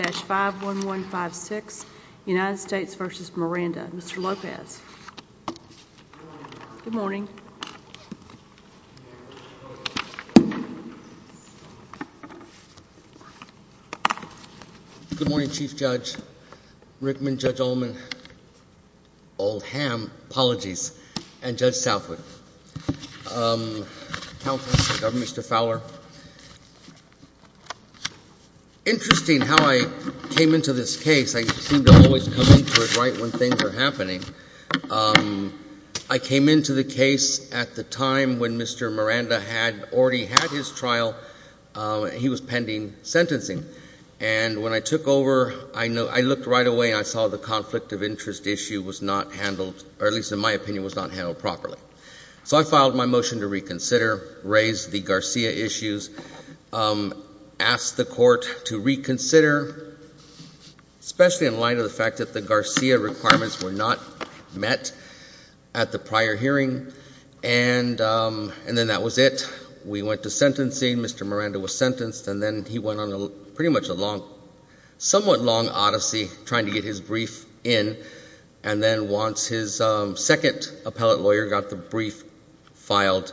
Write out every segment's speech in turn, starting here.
Good morning, Chief Judge Rickman, Judge Ullman, Old Ham, apologies, and Judge Southwood, Mr. Fowler. Interesting how I came into this case. I seem to always come into it right when things are happening. I came into the case at the time when Mr. Miranda had already had his trial. He was pending sentencing, and when I took over, I looked right away and I saw the conflict of interest issue was not handled, or at least in my opinion, was not handled properly. So I filed my motion to reconsider, raise the the Garcia issues, ask the court to reconsider, especially in light of the fact that the Garcia requirements were not met at the prior hearing, and then that was it. We went to sentencing, Mr. Miranda was sentenced, and then he went on a pretty much a long, somewhat long odyssey trying to get his brief in, and then once his second appellate lawyer got the brief filed,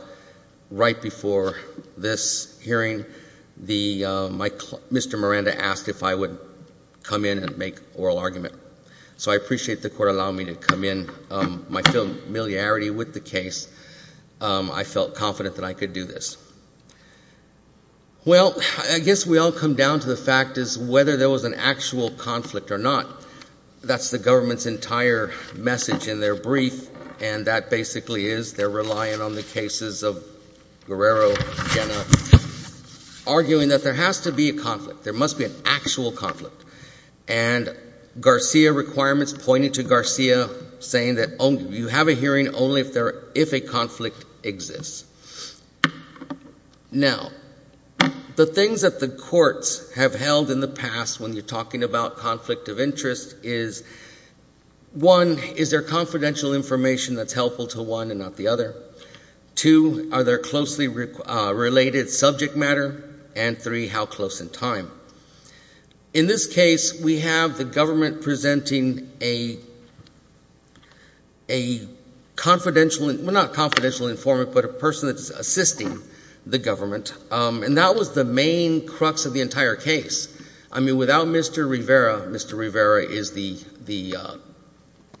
right before the trial, he was sent back to the court, and I think that's what happened. This hearing, Mr. Miranda asked if I would come in and make oral argument. So I appreciate the court allowing me to come in. My familiarity with the case, I felt confident that I could do this. Well, I guess we all come down to the fact is whether there was an actual conflict or not. That's the government's entire message in their brief, and that basically is they're relying on the cases of Guerrero, Jenna, arguing that there has to be a conflict. There must be an actual conflict, and Garcia requirements pointed to Garcia saying that you have a hearing only if a conflict exists. Now, the things that the courts have held in the past when you're talking about conflict of interest is, one, is there confidential information that's helpful to one and not the other? Two, are there closely related subject matter? And three, how close in time? In this case, we have the government presenting a confidential, well, not confidential informant, but a person that's assisting the government, and that was the main crux of the entire case. I mean, without Mr. Rivera, Mr. Rivera is the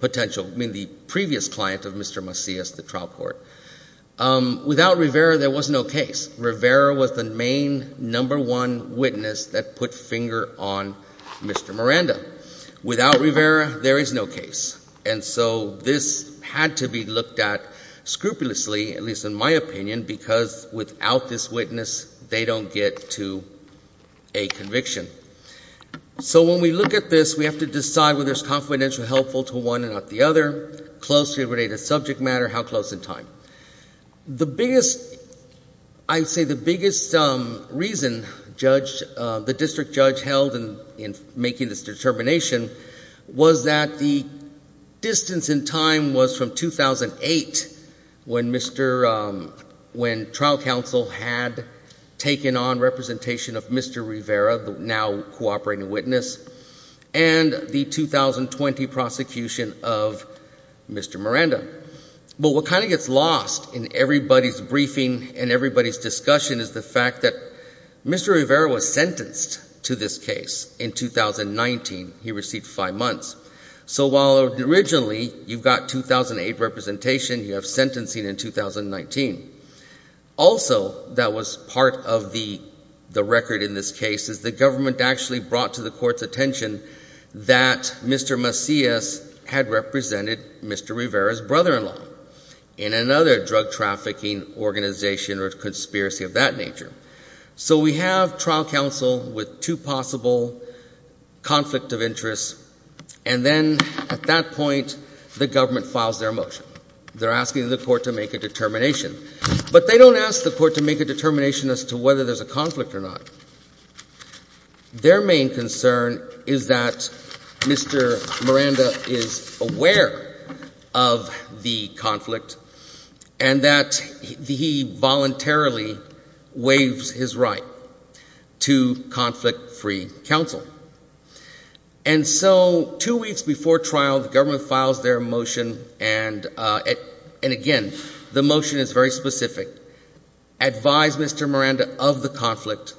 potential, I mean, the previous client of Mr. Macias, the trial court. Without Rivera, there was no case. Rivera was the main number one witness that put finger on Mr. Miranda. Without Rivera, there is no case. And so this had to be looked at scrupulously, at least in my opinion, because without this witness, they don't get to a conviction. So when we look at this, we have to decide whether it's confidential helpful to one and not the other, closely related subject matter, how close in time. The biggest, I'd say the biggest reason the district judge held in making this determination was that the distance in time was from 2008 when trial counsel had taken on representation of Mr. Rivera, the now cooperating witness, and the 2020 prosecution of Mr. Miranda. But what kind of gets lost in everybody's briefing and everybody's discussion is the fact that Mr. Rivera was sentenced to this case in 2019. He received five months. So while originally you've got 2008 representation, you have sentencing in 2019. Also, that was part of the record in this case is the government actually brought to the court's attention that Mr. Macias had represented Mr. Rivera's brother-in-law in another drug trafficking organization or conspiracy of that nature. So we have trial counsel with two possible conflict of interest. And then at that point, the government files their motion. They're asking the court to make a determination. But they don't ask the court to make a determination as to whether there's a conflict or not. Their main concern is that Mr. Miranda is aware of the conflict and that he voluntarily waives his right to conflict-free counsel. And so two weeks before trial, the government files their motion. And again, the motion is very specific. Advise Mr. Miranda of the conflict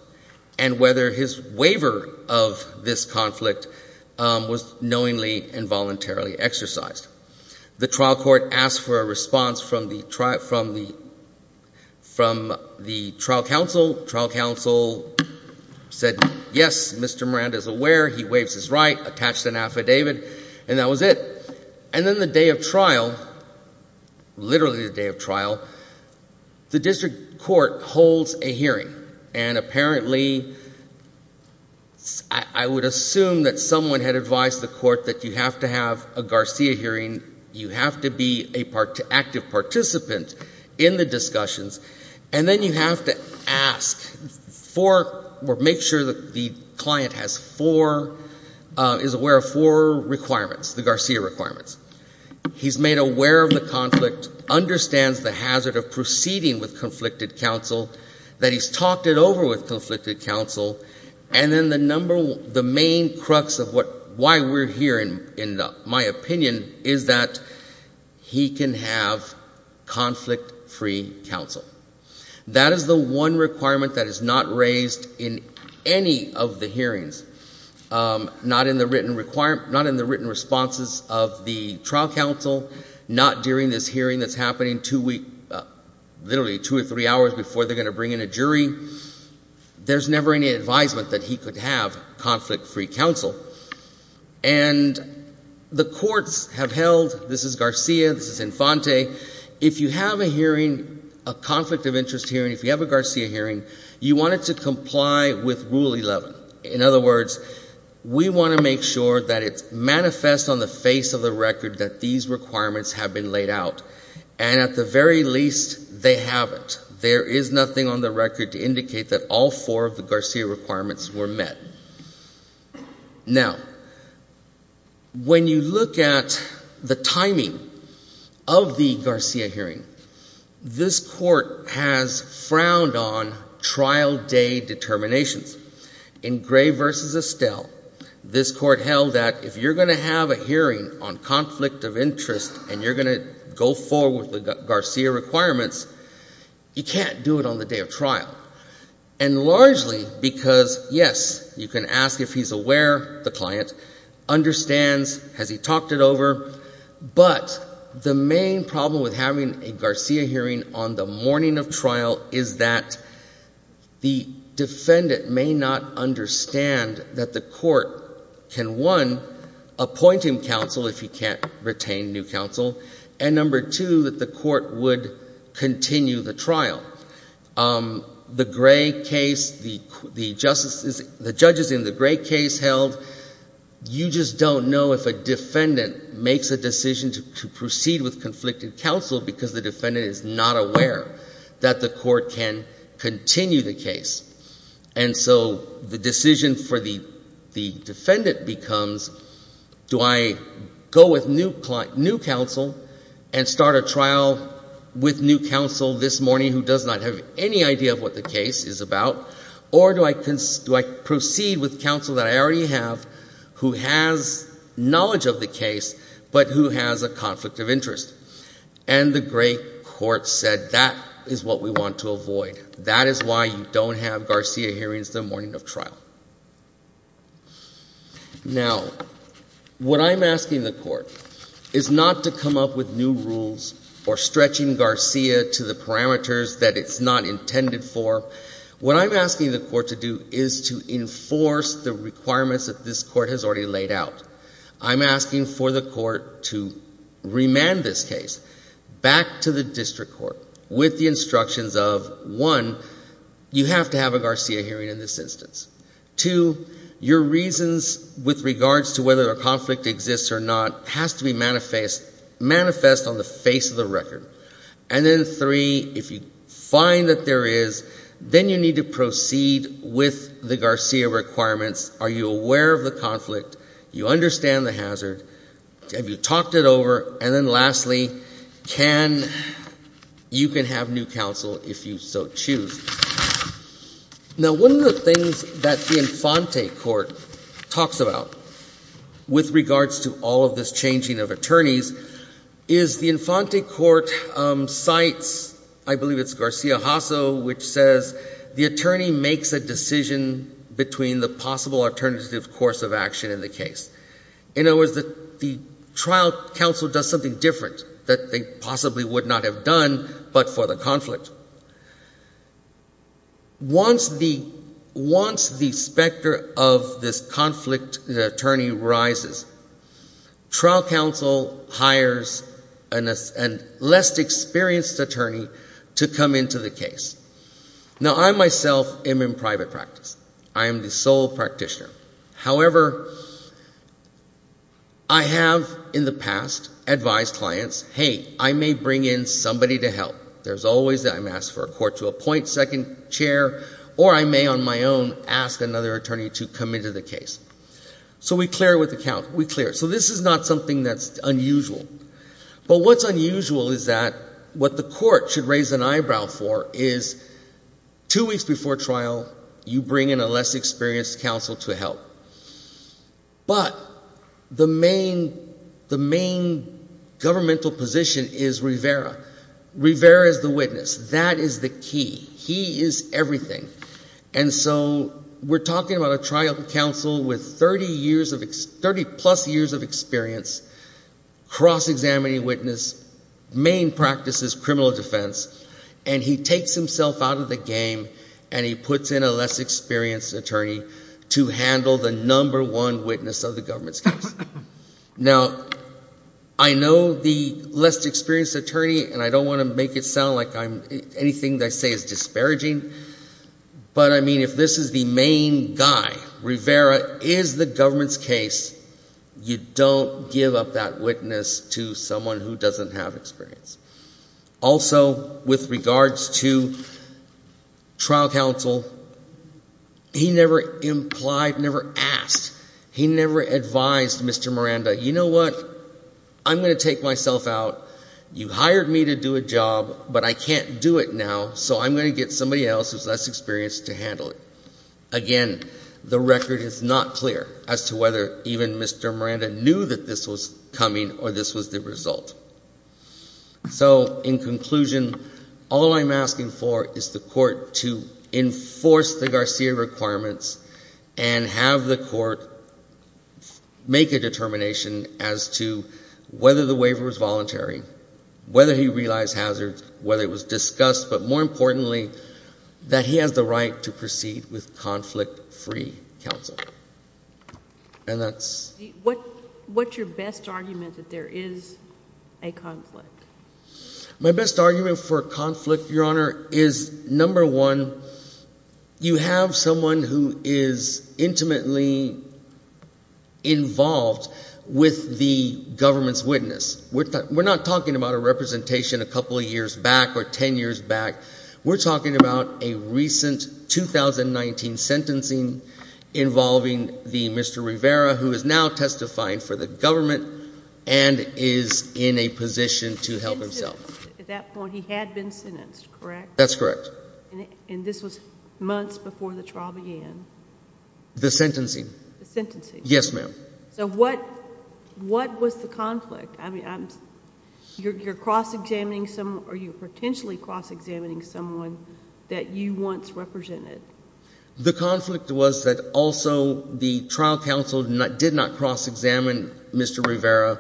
and whether his waiver of this conflict was knowingly and voluntarily exercised. The trial court asked for a response from the trial counsel. Trial counsel said, yes, Mr. Miranda is aware. He waives his right, attached an affidavit, and that was it. And then the day of trial, literally the day of trial, the district court holds a hearing. And apparently, I would assume that someone had advised the court that you have to have a Garcia hearing. You have to be an active participant in the discussions. And then you have to ask for or make sure that the client is aware of four requirements, the Garcia requirements. He's made aware of the conflict, understands the hazard of proceeding with conflicted counsel, that he's talked it over with conflicted counsel, and then the main crux of why we're here, in my opinion, is that he can have conflict-free counsel. That is the one requirement that is not raised in any of the hearings, not in the written responses of the trial counsel, not during this hearing that's happening literally two or three hours before they're going to bring in a jury. There's never any advisement that he could have conflict-free counsel. And the courts have held, this is Garcia, this is Infante. If you have a hearing, a conflict of interest hearing, if you have a Garcia hearing, you want it to comply with Rule 11. In other words, we want to make sure that it's manifest on the face of the record that these requirements have been laid out. And at the very least, they haven't. There is nothing on the record to indicate that all four of the Garcia requirements were met. Now, when you look at the timing of the Garcia hearing, this Court has frowned on trial day determinations. In Gray v. Estelle, this Court held that if you're going to have a hearing on conflict of interest and you're going to go forward with Garcia requirements, you can't do it on the day of trial. And largely because, yes, you can ask if he's aware, the client, understands, has he talked it over. But the main problem with having a Garcia hearing on the morning of trial is that the defendant may not understand that the Court can, one, appoint him counsel if he can't retain new counsel, and, number two, that the Court would continue the trial. The Gray case, the judges in the Gray case held, you just don't know if a defendant makes a decision to proceed with conflicted counsel because the defendant is not aware that the Court can continue the case. And so the decision for the defendant becomes, do I go with new counsel and start a trial with new counsel this morning who does not have any idea of what the case is about, or do I proceed with counsel that I already have who has knowledge of the case but who has a conflict of interest? And the Gray court said, that is what we want to avoid. That is why you don't have Garcia hearings the morning of trial. Now, what I'm asking the Court is not to come up with new rules or stretching Garcia to the parameters that it's not intended for. What I'm asking the Court to do is to enforce the requirements that this Court has already laid out. I'm asking for the Court to remand this case back to the district court with the instructions of, one, you have to have a Garcia hearing in this instance. Two, your reasons with regards to whether a conflict exists or not has to be manifest on the face of the record. And then, three, if you find that there is, then you need to proceed with the Garcia requirements. Are you aware of the conflict? Do you understand the hazard? Have you talked it over? And then, lastly, you can have new counsel if you so choose. Now, one of the things that the Infante Court talks about with regards to all of this changing of attorneys is the Infante Court cites, I believe it's Garcia Hasso, which says the attorney makes a decision between the possible alternative course of action in the case. In other words, the trial counsel does something different that they possibly would not have done but for the conflict. Once the specter of this conflict attorney rises, trial counsel hires a less experienced attorney to come into the case. Now, I myself am in private practice. I am the sole practitioner. However, I have in the past advised clients, hey, I may bring in somebody to help. There's always that I'm asked for a court to appoint second chair, or I may on my own ask another attorney to come into the case. So we clear it with the count. We clear it. So this is not something that's unusual. But what's unusual is that what the court should raise an eyebrow for is two weeks before trial, you bring in a less experienced counsel to help. But the main governmental position is Rivera. Rivera is the witness. That is the key. He is everything. And so we're talking about a trial counsel with 30 plus years of experience, cross-examining witness, main practice is criminal defense, and he takes himself out of the game and he puts in a less experienced attorney to handle the number one witness of the government's case. Now, I know the less experienced attorney, and I don't want to make it sound like anything I say is disparaging. But, I mean, if this is the main guy, Rivera is the government's case, you don't give up that witness to someone who doesn't have experience. Also, with regards to trial counsel, he never implied, never asked, he never advised Mr. Miranda, you know what, I'm going to take myself out. You hired me to do a job, but I can't do it now, so I'm going to get somebody else who's less experienced to handle it. Again, the record is not clear as to whether even Mr. Miranda knew that this was coming or this was the result. So, in conclusion, all I'm asking for is the court to enforce the Garcia requirements and have the court make a determination as to whether the waiver was voluntary, whether he realized hazards, whether it was discussed, but more importantly, that he has the right to proceed with conflict-free counsel. And that's… What's your best argument that there is a conflict? My best argument for a conflict, Your Honor, is number one, you have someone who is intimately involved with the government's witness. We're not talking about a representation a couple of years back or ten years back. We're talking about a recent 2019 sentencing involving Mr. Rivera, who is now testifying for the government and is in a position to help himself. At that point, he had been sentenced, correct? That's correct. And this was months before the trial began? The sentencing. The sentencing. Yes, ma'am. So what was the conflict? I mean, you're cross-examining someone or you're potentially cross-examining someone that you once represented. The conflict was that also the trial counsel did not cross-examine Mr. Rivera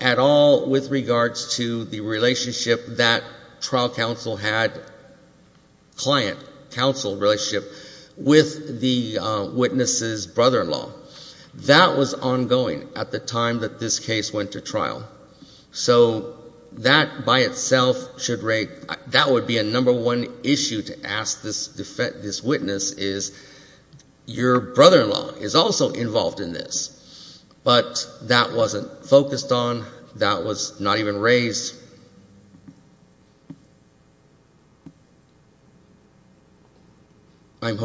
at all with regards to the relationship that trial counsel had, client-counsel relationship, with the witness's brother-in-law. That was ongoing at the time that this case went to trial. So that, by itself, would be a number one issue to ask this witness is, your brother-in-law is also involved in this. But that wasn't focused on. That was not even raised. If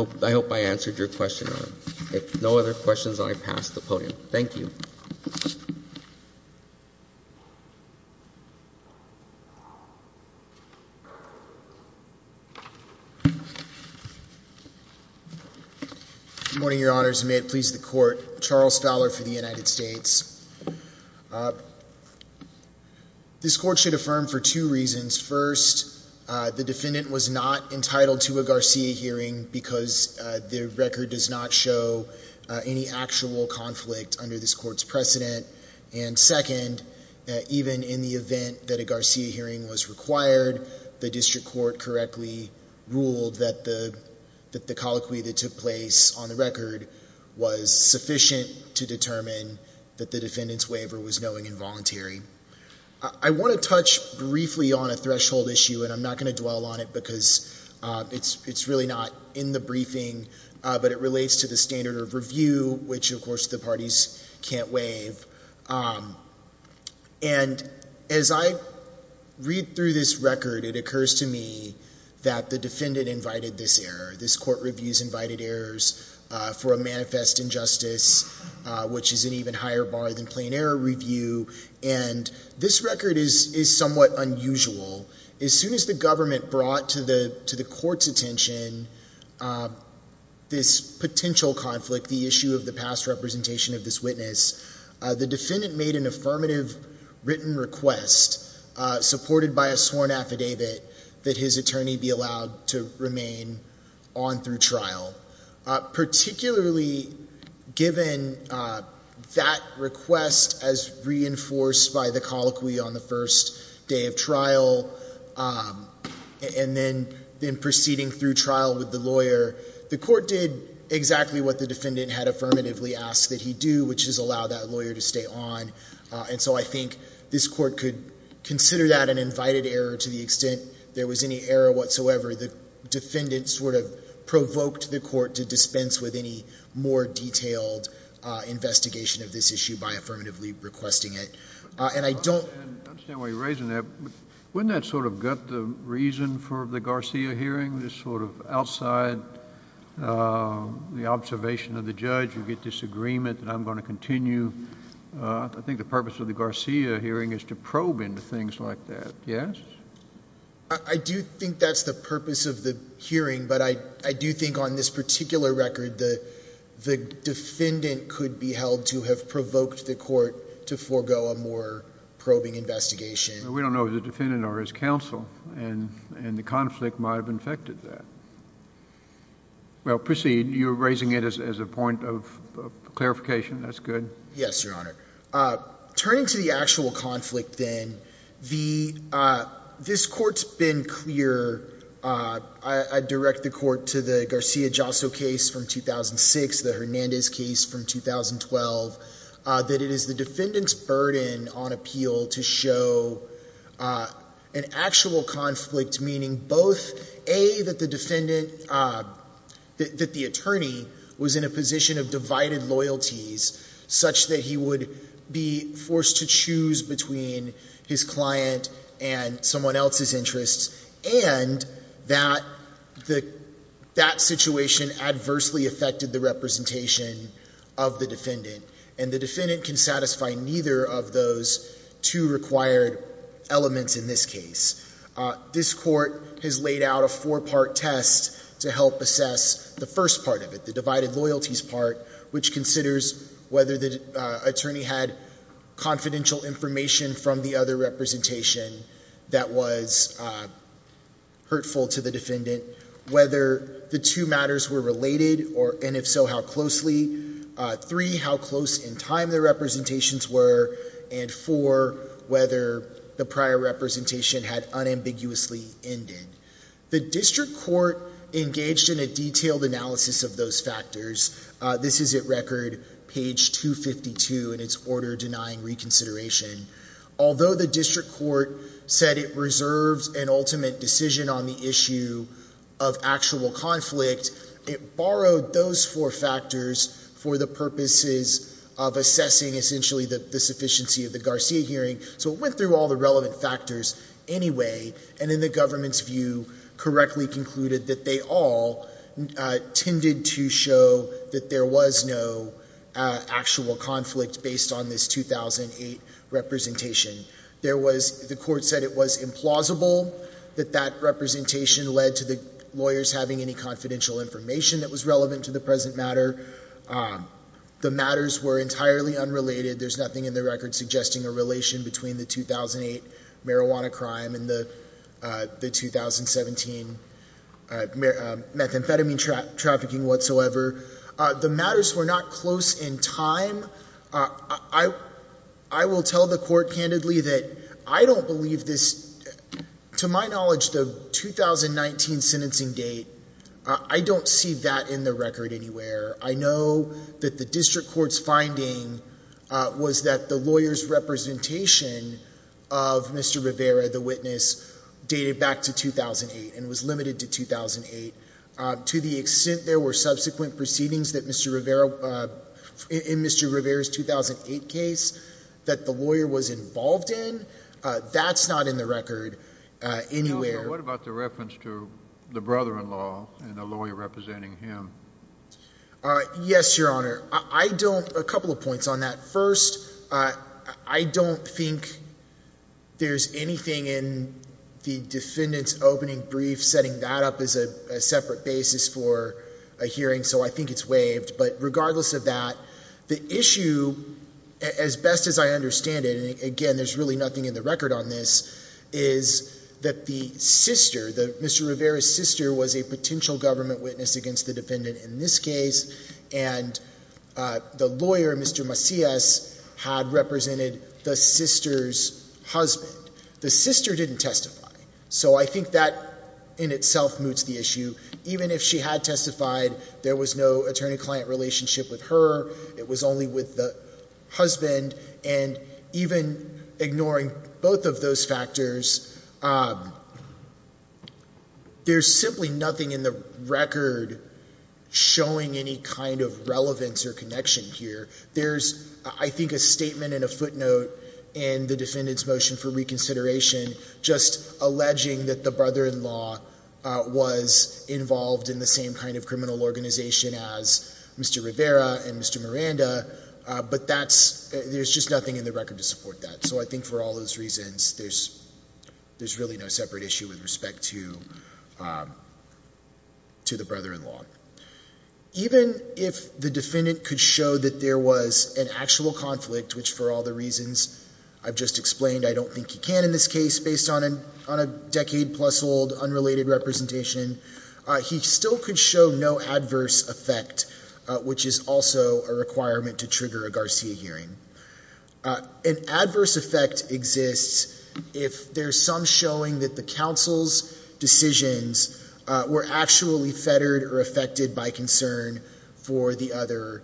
no other questions, I pass the podium. Thank you. Good morning, Your Honors, and may it please the Court. Charles Fowler for the United States. This Court should affirm for two reasons. First, the defendant was not entitled to a Garcia hearing because the record does not show any actual conflict under this Court's precedent. And second, even in the event that a Garcia hearing was required, the district court correctly ruled that the colloquy that took place on the record was sufficient to determine that the defendant's waiver was knowing and voluntary. I want to touch briefly on a threshold issue, and I'm not going to dwell on it because it's really not in the briefing, but it relates to the standard of review, which, of course, the parties can't waive. And as I read through this record, it occurs to me that the defendant invited this error. This Court reviews invited errors for a manifest injustice, which is an even higher bar than plain error review. And this record is somewhat unusual. As soon as the government brought to the Court's attention this potential conflict, the issue of the past representation of this witness, the defendant made an affirmative written request supported by a sworn affidavit that his attorney be allowed to remain on through trial. Particularly given that request as reinforced by the colloquy on the first day of trial, and then proceeding through trial with the lawyer, the Court did exactly what the defendant had affirmatively asked that he do, which is allow that lawyer to stay on. And so I think this Court could consider that an invited error to the extent there was any error whatsoever. The defendant sort of provoked the Court to dispense with any more detailed investigation of this issue by affirmatively requesting it. And I don't— I understand why you're raising that, but wouldn't that sort of gut the reason for the Garcia hearing, this sort of outside the observation of the judge, you get disagreement that I'm going to continue? I think the purpose of the Garcia hearing is to probe into things like that, yes? I do think that's the purpose of the hearing, but I do think on this particular record, the defendant could be held to have provoked the Court to forego a more probing investigation. We don't know if the defendant or his counsel, and the conflict might have infected that. Well, proceed. You're raising it as a point of clarification. That's good. Yes, Your Honor. Turning to the actual conflict then, this Court's been clear— I direct the Court to the Garcia-Josso case from 2006, the Hernandez case from 2012, that it is the defendant's burden on appeal to show an actual conflict, meaning both, A, that the attorney was in a position of divided loyalties, such that he would be forced to choose between his client and someone else's interests, and that that situation adversely affected the representation of the defendant, and the defendant can satisfy neither of those two required elements in this case. This Court has laid out a four-part test to help assess the first part of it, the divided loyalties part, which considers whether the attorney had confidential information from the other representation that was hurtful to the defendant, whether the two matters were related, and if so, how closely, three, how close in time the representations were, and four, whether the prior representation had unambiguously ended. The district court engaged in a detailed analysis of those factors. This is at record page 252 in its order denying reconsideration. Although the district court said it reserved an ultimate decision on the issue of actual conflict, it borrowed those four factors for the purposes of assessing, essentially, the sufficiency of the Garcia hearing, so it went through all the relevant factors anyway, and in the government's view, correctly concluded that they all tended to show that there was no actual conflict based on this 2008 representation. The court said it was implausible that that representation led to the lawyers having any confidential information that was relevant to the present matter. The matters were entirely unrelated. There's nothing in the record suggesting a relation between the 2008 marijuana crime and the 2017 methamphetamine trafficking whatsoever. The matters were not close in time. I will tell the court candidly that I don't believe this. To my knowledge, the 2019 sentencing date, I don't see that in the record anywhere. I know that the district court's finding was that the lawyer's representation of Mr. Rivera, the witness, dated back to 2008 and was limited to 2008. To the extent there were subsequent proceedings in Mr. Rivera's 2008 case that the lawyer was involved in, that's not in the record anywhere. What about the reference to the brother-in-law and the lawyer representing him? Yes, Your Honor. A couple of points on that. First, I don't think there's anything in the defendant's opening brief setting that up as a separate basis for a hearing, so I think it's waived. But regardless of that, the issue, as best as I understand it, and again, there's really nothing in the record on this, is that the sister, Mr. Rivera's sister, was a potential government witness against the defendant in this case. And the lawyer, Mr. Macias, had represented the sister's husband. The sister didn't testify, so I think that in itself moots the issue. Even if she had testified, there was no attorney-client relationship with her. It was only with the husband. And even ignoring both of those factors, there's simply nothing in the record showing any kind of relevance or connection here. There's, I think, a statement and a footnote in the defendant's motion for reconsideration just alleging that the brother-in-law was involved in the same kind of criminal organization as Mr. Rivera and Mr. Miranda. But there's just nothing in the record to support that. So I think for all those reasons, there's really no separate issue with respect to the brother-in-law. Even if the defendant could show that there was an actual conflict, which for all the reasons I've just explained, I don't think he can in this case based on a decade-plus-old unrelated representation, he still could show no adverse effect, which is also a requirement to trigger a Garcia hearing. An adverse effect exists if there's some showing that the counsel's decisions were actually fettered or affected by concern for the other,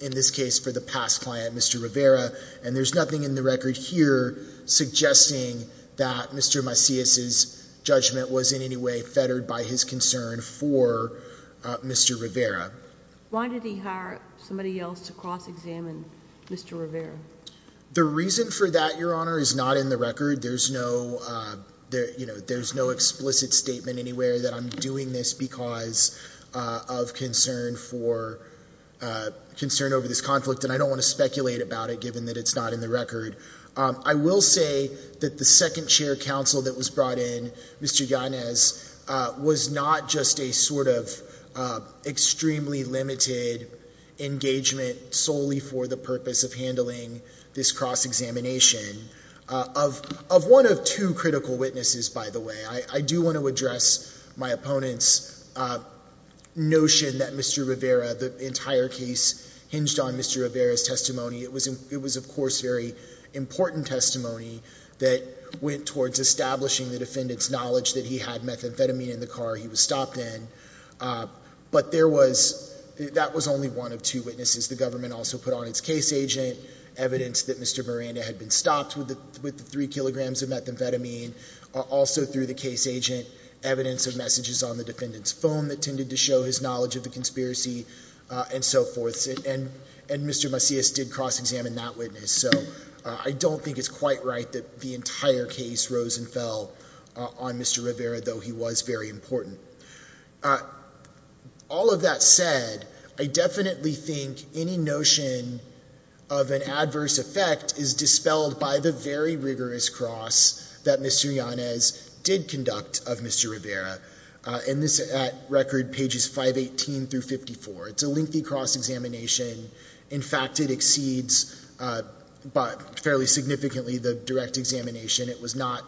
in this case, for the past client, Mr. Rivera. And there's nothing in the record here suggesting that Mr. Macias's judgment was in any way fettered by his concern for Mr. Rivera. Why did he hire somebody else to cross-examine Mr. Rivera? The reason for that, Your Honor, is not in the record. There's no explicit statement anywhere that I'm doing this because of concern over this conflict, and I don't want to speculate about it given that it's not in the record. I will say that the second chair counsel that was brought in, Mr. Yanez, was not just a sort of extremely limited engagement solely for the purpose of handling this cross-examination. Of one of two critical witnesses, by the way, I do want to address my opponent's notion that Mr. Rivera, the entire case hinged on Mr. Rivera's testimony. It was, of course, very important testimony that went towards establishing the defendant's knowledge that he had methamphetamine in the car he was stopped in. But that was only one of two witnesses. The government also put on its case agent evidence that Mr. Miranda had been stopped with the three kilograms of methamphetamine. Also through the case agent, evidence of messages on the defendant's phone that tended to show his knowledge of the conspiracy and so forth. And Mr. Macias did cross-examine that witness. So I don't think it's quite right that the entire case rose and fell on Mr. Rivera, though he was very important. All of that said, I definitely think any notion of an adverse effect is dispelled by the very rigorous cross that Mr. Yanez did conduct of Mr. Rivera. And this is at record pages 518 through 54. It's a lengthy cross-examination. In fact, it exceeds fairly significantly the direct examination. It was not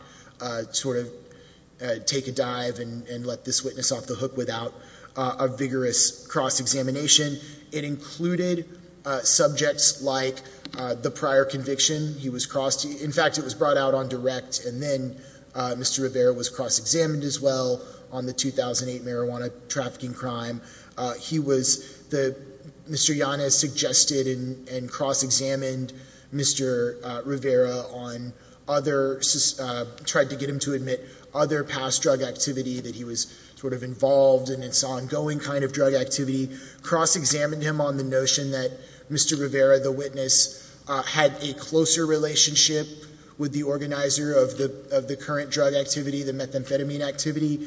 sort of take a dive and let this witness off the hook without a vigorous cross-examination. It included subjects like the prior conviction. In fact, it was brought out on direct. And then Mr. Rivera was cross-examined as well on the 2008 marijuana trafficking crime. Mr. Yanez suggested and cross-examined Mr. Rivera on other, tried to get him to admit other past drug activity that he was sort of involved in. It's ongoing kind of drug activity. Cross-examined him on the notion that Mr. Rivera, the witness, had a closer relationship with the organizer of the current drug activity, the methamphetamine activity,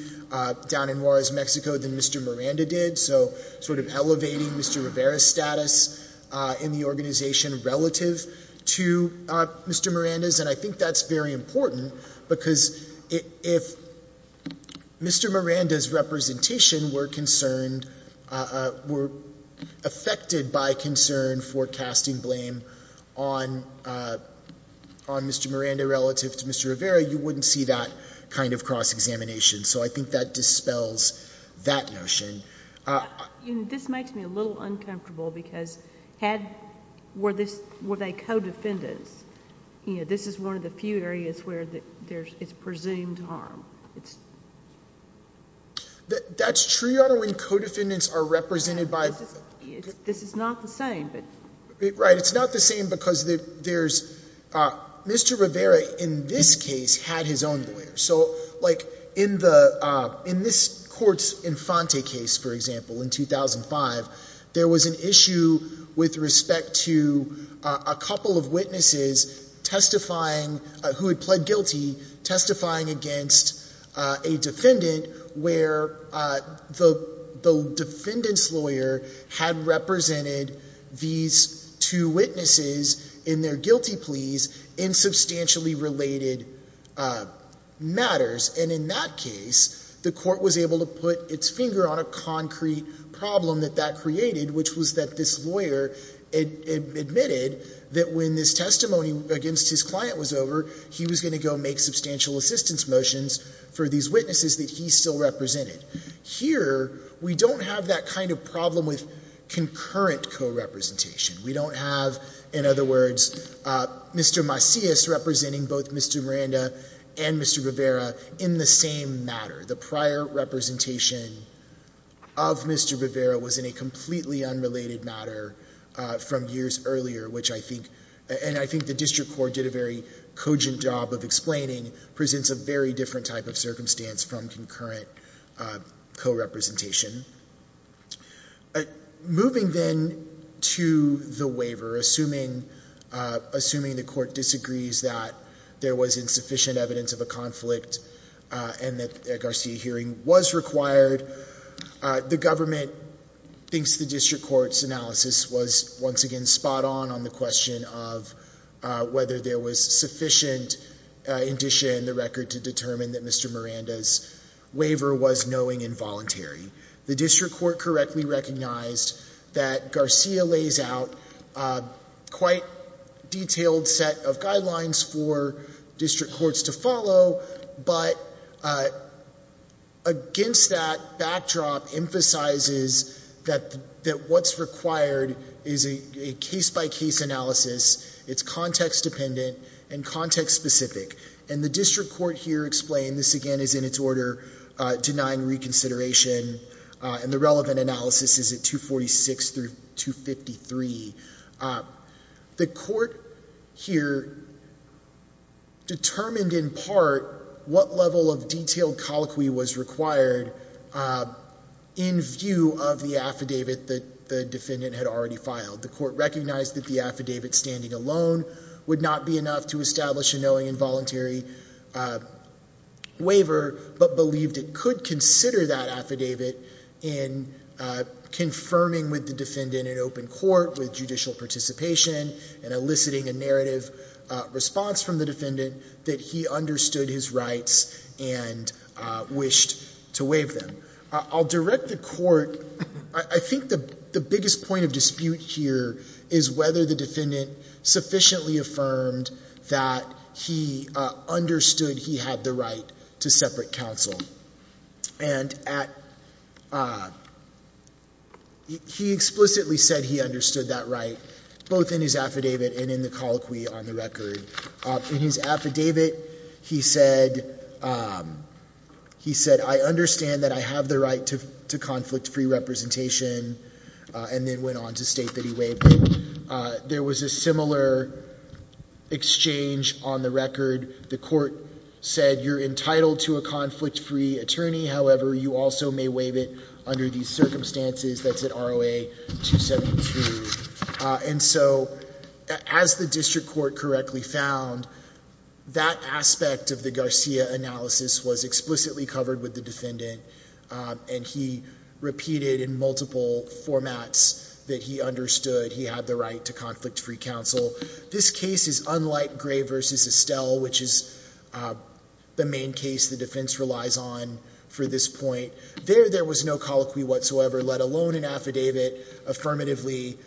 down in Juarez, Mexico, than Mr. Miranda did. So sort of elevating Mr. Rivera's status in the organization relative to Mr. Miranda's. And I think that's very important because if Mr. Miranda's representation were concerned, were affected by concern for casting blame on Mr. Miranda relative to Mr. Rivera, you wouldn't see that kind of cross-examination. So I think that dispels that notion. This makes me a little uncomfortable because had, were they co-defendants, this is one of the few areas where it's presumed harm. That's true when co-defendants are represented by. This is not the same. Right, it's not the same because there's. Mr. Rivera, in this case, had his own lawyer. So like in this court's Infante case, for example, in 2005, there was an issue with respect to a couple of witnesses testifying, who had pled guilty, testifying against a defendant where the defendant's lawyer had represented these two witnesses in their guilty pleas in substantially related matters. And in that case, the court was able to put its finger on a concrete problem that that created, which was that this lawyer admitted that when this testimony against his client was over, he was going to go make substantial assistance motions for these witnesses that he still represented. Here, we don't have that kind of problem with concurrent co-representation. We don't have, in other words, Mr. Macias representing both Mr. Miranda and Mr. Rivera in the same matter. The prior representation of Mr. Rivera was in a completely unrelated matter from years earlier, which I think, and I think the district court did a very cogent job of explaining, presents a very different type of circumstance from concurrent co-representation. Moving then to the waiver, assuming the court disagrees that there was insufficient evidence of a conflict and that a Garcia hearing was required, the government thinks the district court's analysis was, once again, spot on on the question of whether there was sufficient indicia in the record to determine that Mr. Miranda's waiver was knowing and voluntary. The district court correctly recognized that Garcia lays out a quite detailed set of guidelines for district courts to follow, but against that backdrop emphasizes that what's required is a case-by-case analysis. It's context-dependent and context-specific. And the district court here explained, this again is in its order, denying reconsideration, and the relevant analysis is at 246 through 253. The court here determined in part what level of detailed colloquy was required in view of the affidavit that the defendant had already filed. The court recognized that the affidavit standing alone would not be enough to establish a knowing and voluntary waiver, but believed it could consider that affidavit in confirming with the defendant in open court, with judicial participation, and eliciting a narrative response from the defendant that he understood his rights and wished to waive them. I'll direct the court, I think the biggest point of dispute here is whether the defendant sufficiently affirmed that he understood he had the right to separate counsel. And he explicitly said he understood that right, both in his affidavit and in the colloquy on the record. In his affidavit, he said, I understand that I have the right to conflict-free representation, and then went on to state that he waived it. There was a similar exchange on the record. The court said, you're entitled to a conflict-free attorney. However, you also may waive it under these circumstances. That's at ROA 272. And so, as the district court correctly found, that aspect of the Garcia analysis was explicitly covered with the defendant. And he repeated in multiple formats that he understood he had the right to conflict-free counsel. This case is unlike Gray v. Estelle, which is the main case the defense relies on for this point. There, there was no colloquy whatsoever, let alone an affidavit affirmatively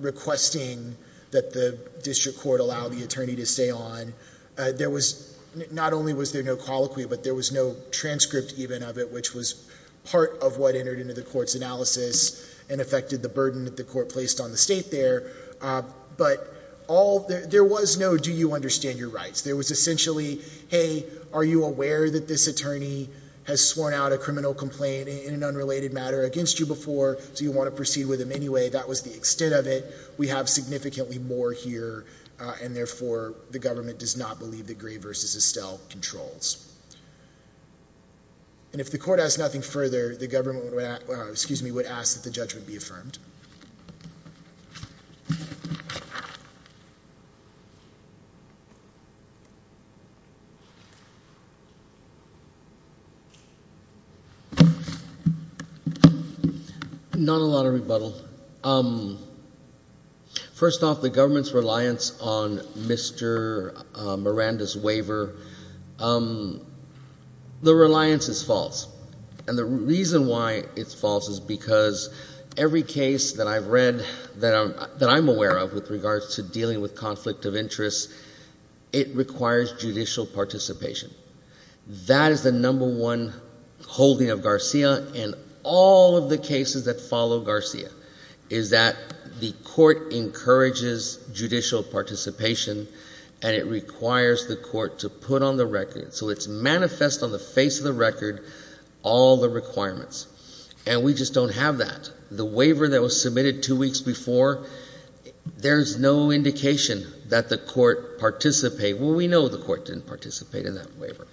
requesting that the district court allow the attorney to stay on. There was, not only was there no colloquy, but there was no transcript even of it, which was part of what entered into the court's analysis and affected the burden that the court placed on the state there. But all, there was no, do you understand your rights? There was essentially, hey, are you aware that this attorney has sworn out a criminal complaint in an unrelated matter against you before? Do you want to proceed with him anyway? That was the extent of it. We have significantly more here, and therefore, the government does not believe that Gray v. Estelle controls. And if the court has nothing further, the government would ask that the judgment be affirmed. Thank you. Not a lot of rebuttal. First off, the government's reliance on Mr. Miranda's waiver, the reliance is false. And the reason why it's false is because every case that I've read that I'm aware of with regards to dealing with conflict of interest, it requires judicial participation. That is the number one holding of Garcia, and all of the cases that follow Garcia is that the court encourages judicial participation, and it requires the court to put on the record. All the requirements, and we just don't have that. The waiver that was submitted two weeks before, there's no indication that the court participated. Well, we know the court didn't participate in that waiver.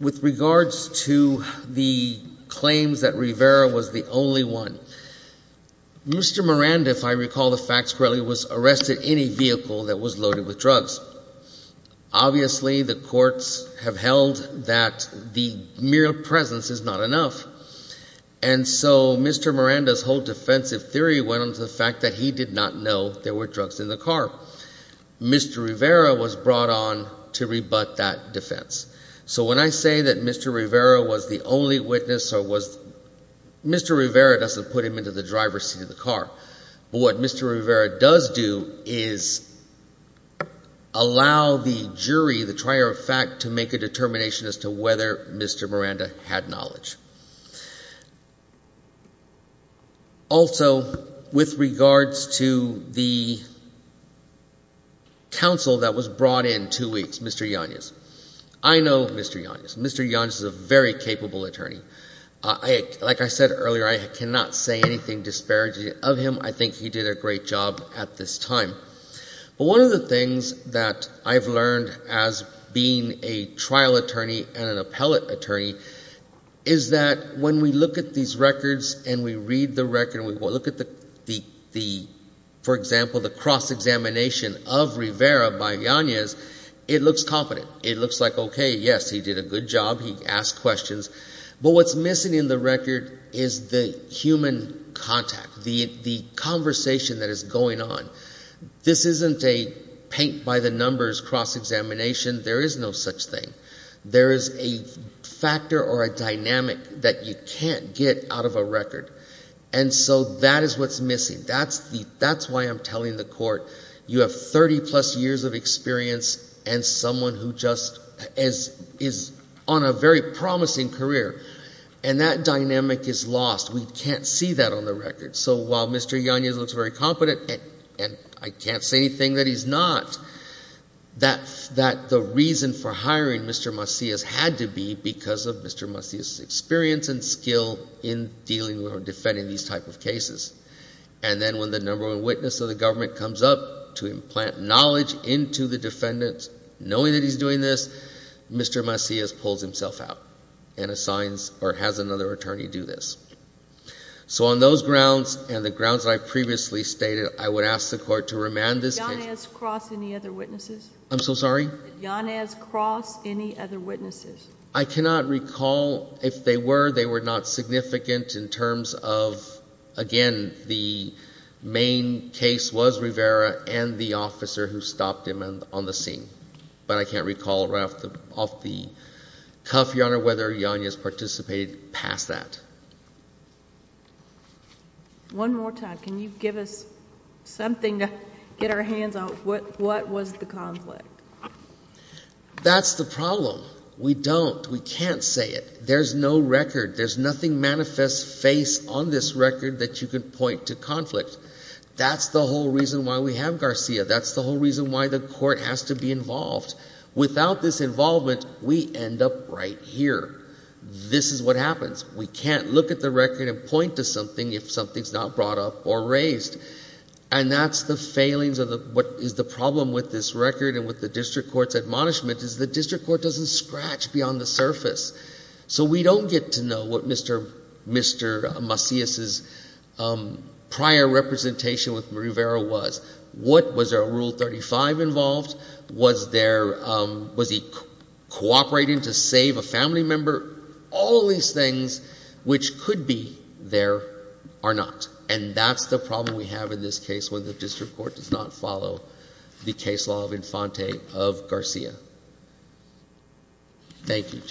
With regards to the claims that Rivera was the only one, Mr. Miranda, if I recall the facts correctly, was arrested in a vehicle that was loaded with drugs. Obviously, the courts have held that the mere presence is not enough. And so Mr. Miranda's whole defensive theory went on to the fact that he did not know there were drugs in the car. Mr. Rivera was brought on to rebut that defense. So when I say that Mr. Rivera was the only witness, Mr. Rivera doesn't put him into the driver's seat of the car. But what Mr. Rivera does do is allow the jury, the trier of fact, to make a determination as to whether Mr. Miranda had knowledge. Also, with regards to the counsel that was brought in two weeks, Mr. Yanez. I know Mr. Yanez. Mr. Yanez is a very capable attorney. Like I said earlier, I cannot say anything disparaging of him. I think he did a great job at this time. But one of the things that I've learned as being a trial attorney and an appellate attorney is that when we look at these records and we read the record and we look at the, for example, the cross-examination of Rivera by Yanez, it looks confident. It looks like, okay, yes, he did a good job. He asked questions. But what's missing in the record is the human contact, the conversation that is going on. This isn't a paint-by-the-numbers cross-examination. There is no such thing. There is a factor or a dynamic that you can't get out of a record. And so that is what's missing. That's why I'm telling the court you have 30-plus years of experience and someone who just is on a very promising career. And that dynamic is lost. We can't see that on the record. So while Mr. Yanez looks very competent, and I can't say anything that he's not, that the reason for hiring Mr. Macias had to be because of Mr. Macias' experience and skill in dealing with or defending these type of cases. And then when the number one witness of the government comes up to implant knowledge into the defendants, knowing that he's doing this, Mr. Macias pulls himself out and assigns or has another attorney do this. So on those grounds and the grounds that I previously stated, I would ask the court to remand this case. Did Yanez cross any other witnesses? I'm so sorry? Did Yanez cross any other witnesses? I cannot recall. If they were, they were not significant in terms of, again, the main case was Rivera and the officer who stopped him on the scene. But I can't recall right off the cuff, Your Honor, whether Yanez participated past that. One more time. Can you give us something to get our hands on? What was the conflict? That's the problem. We don't. We can't say it. There's no record. There's nothing manifest face on this record that you can point to conflict. That's the whole reason why we have Garcia. That's the whole reason why the court has to be involved. Without this involvement, we end up right here. This is what happens. We can't look at the record and point to something if something's not brought up or raised. And that's the failings of what is the problem with this record and with the district court's admonishment, is the district court doesn't scratch beyond the surface. So we don't get to know what Mr. Macias's prior representation with Rivera was. Was there a Rule 35 involved? Was he cooperating to save a family member? All these things which could be there are not. And that's the problem we have in this case when the district court does not follow the case law of Infante of Garcia. Thank you, Judge.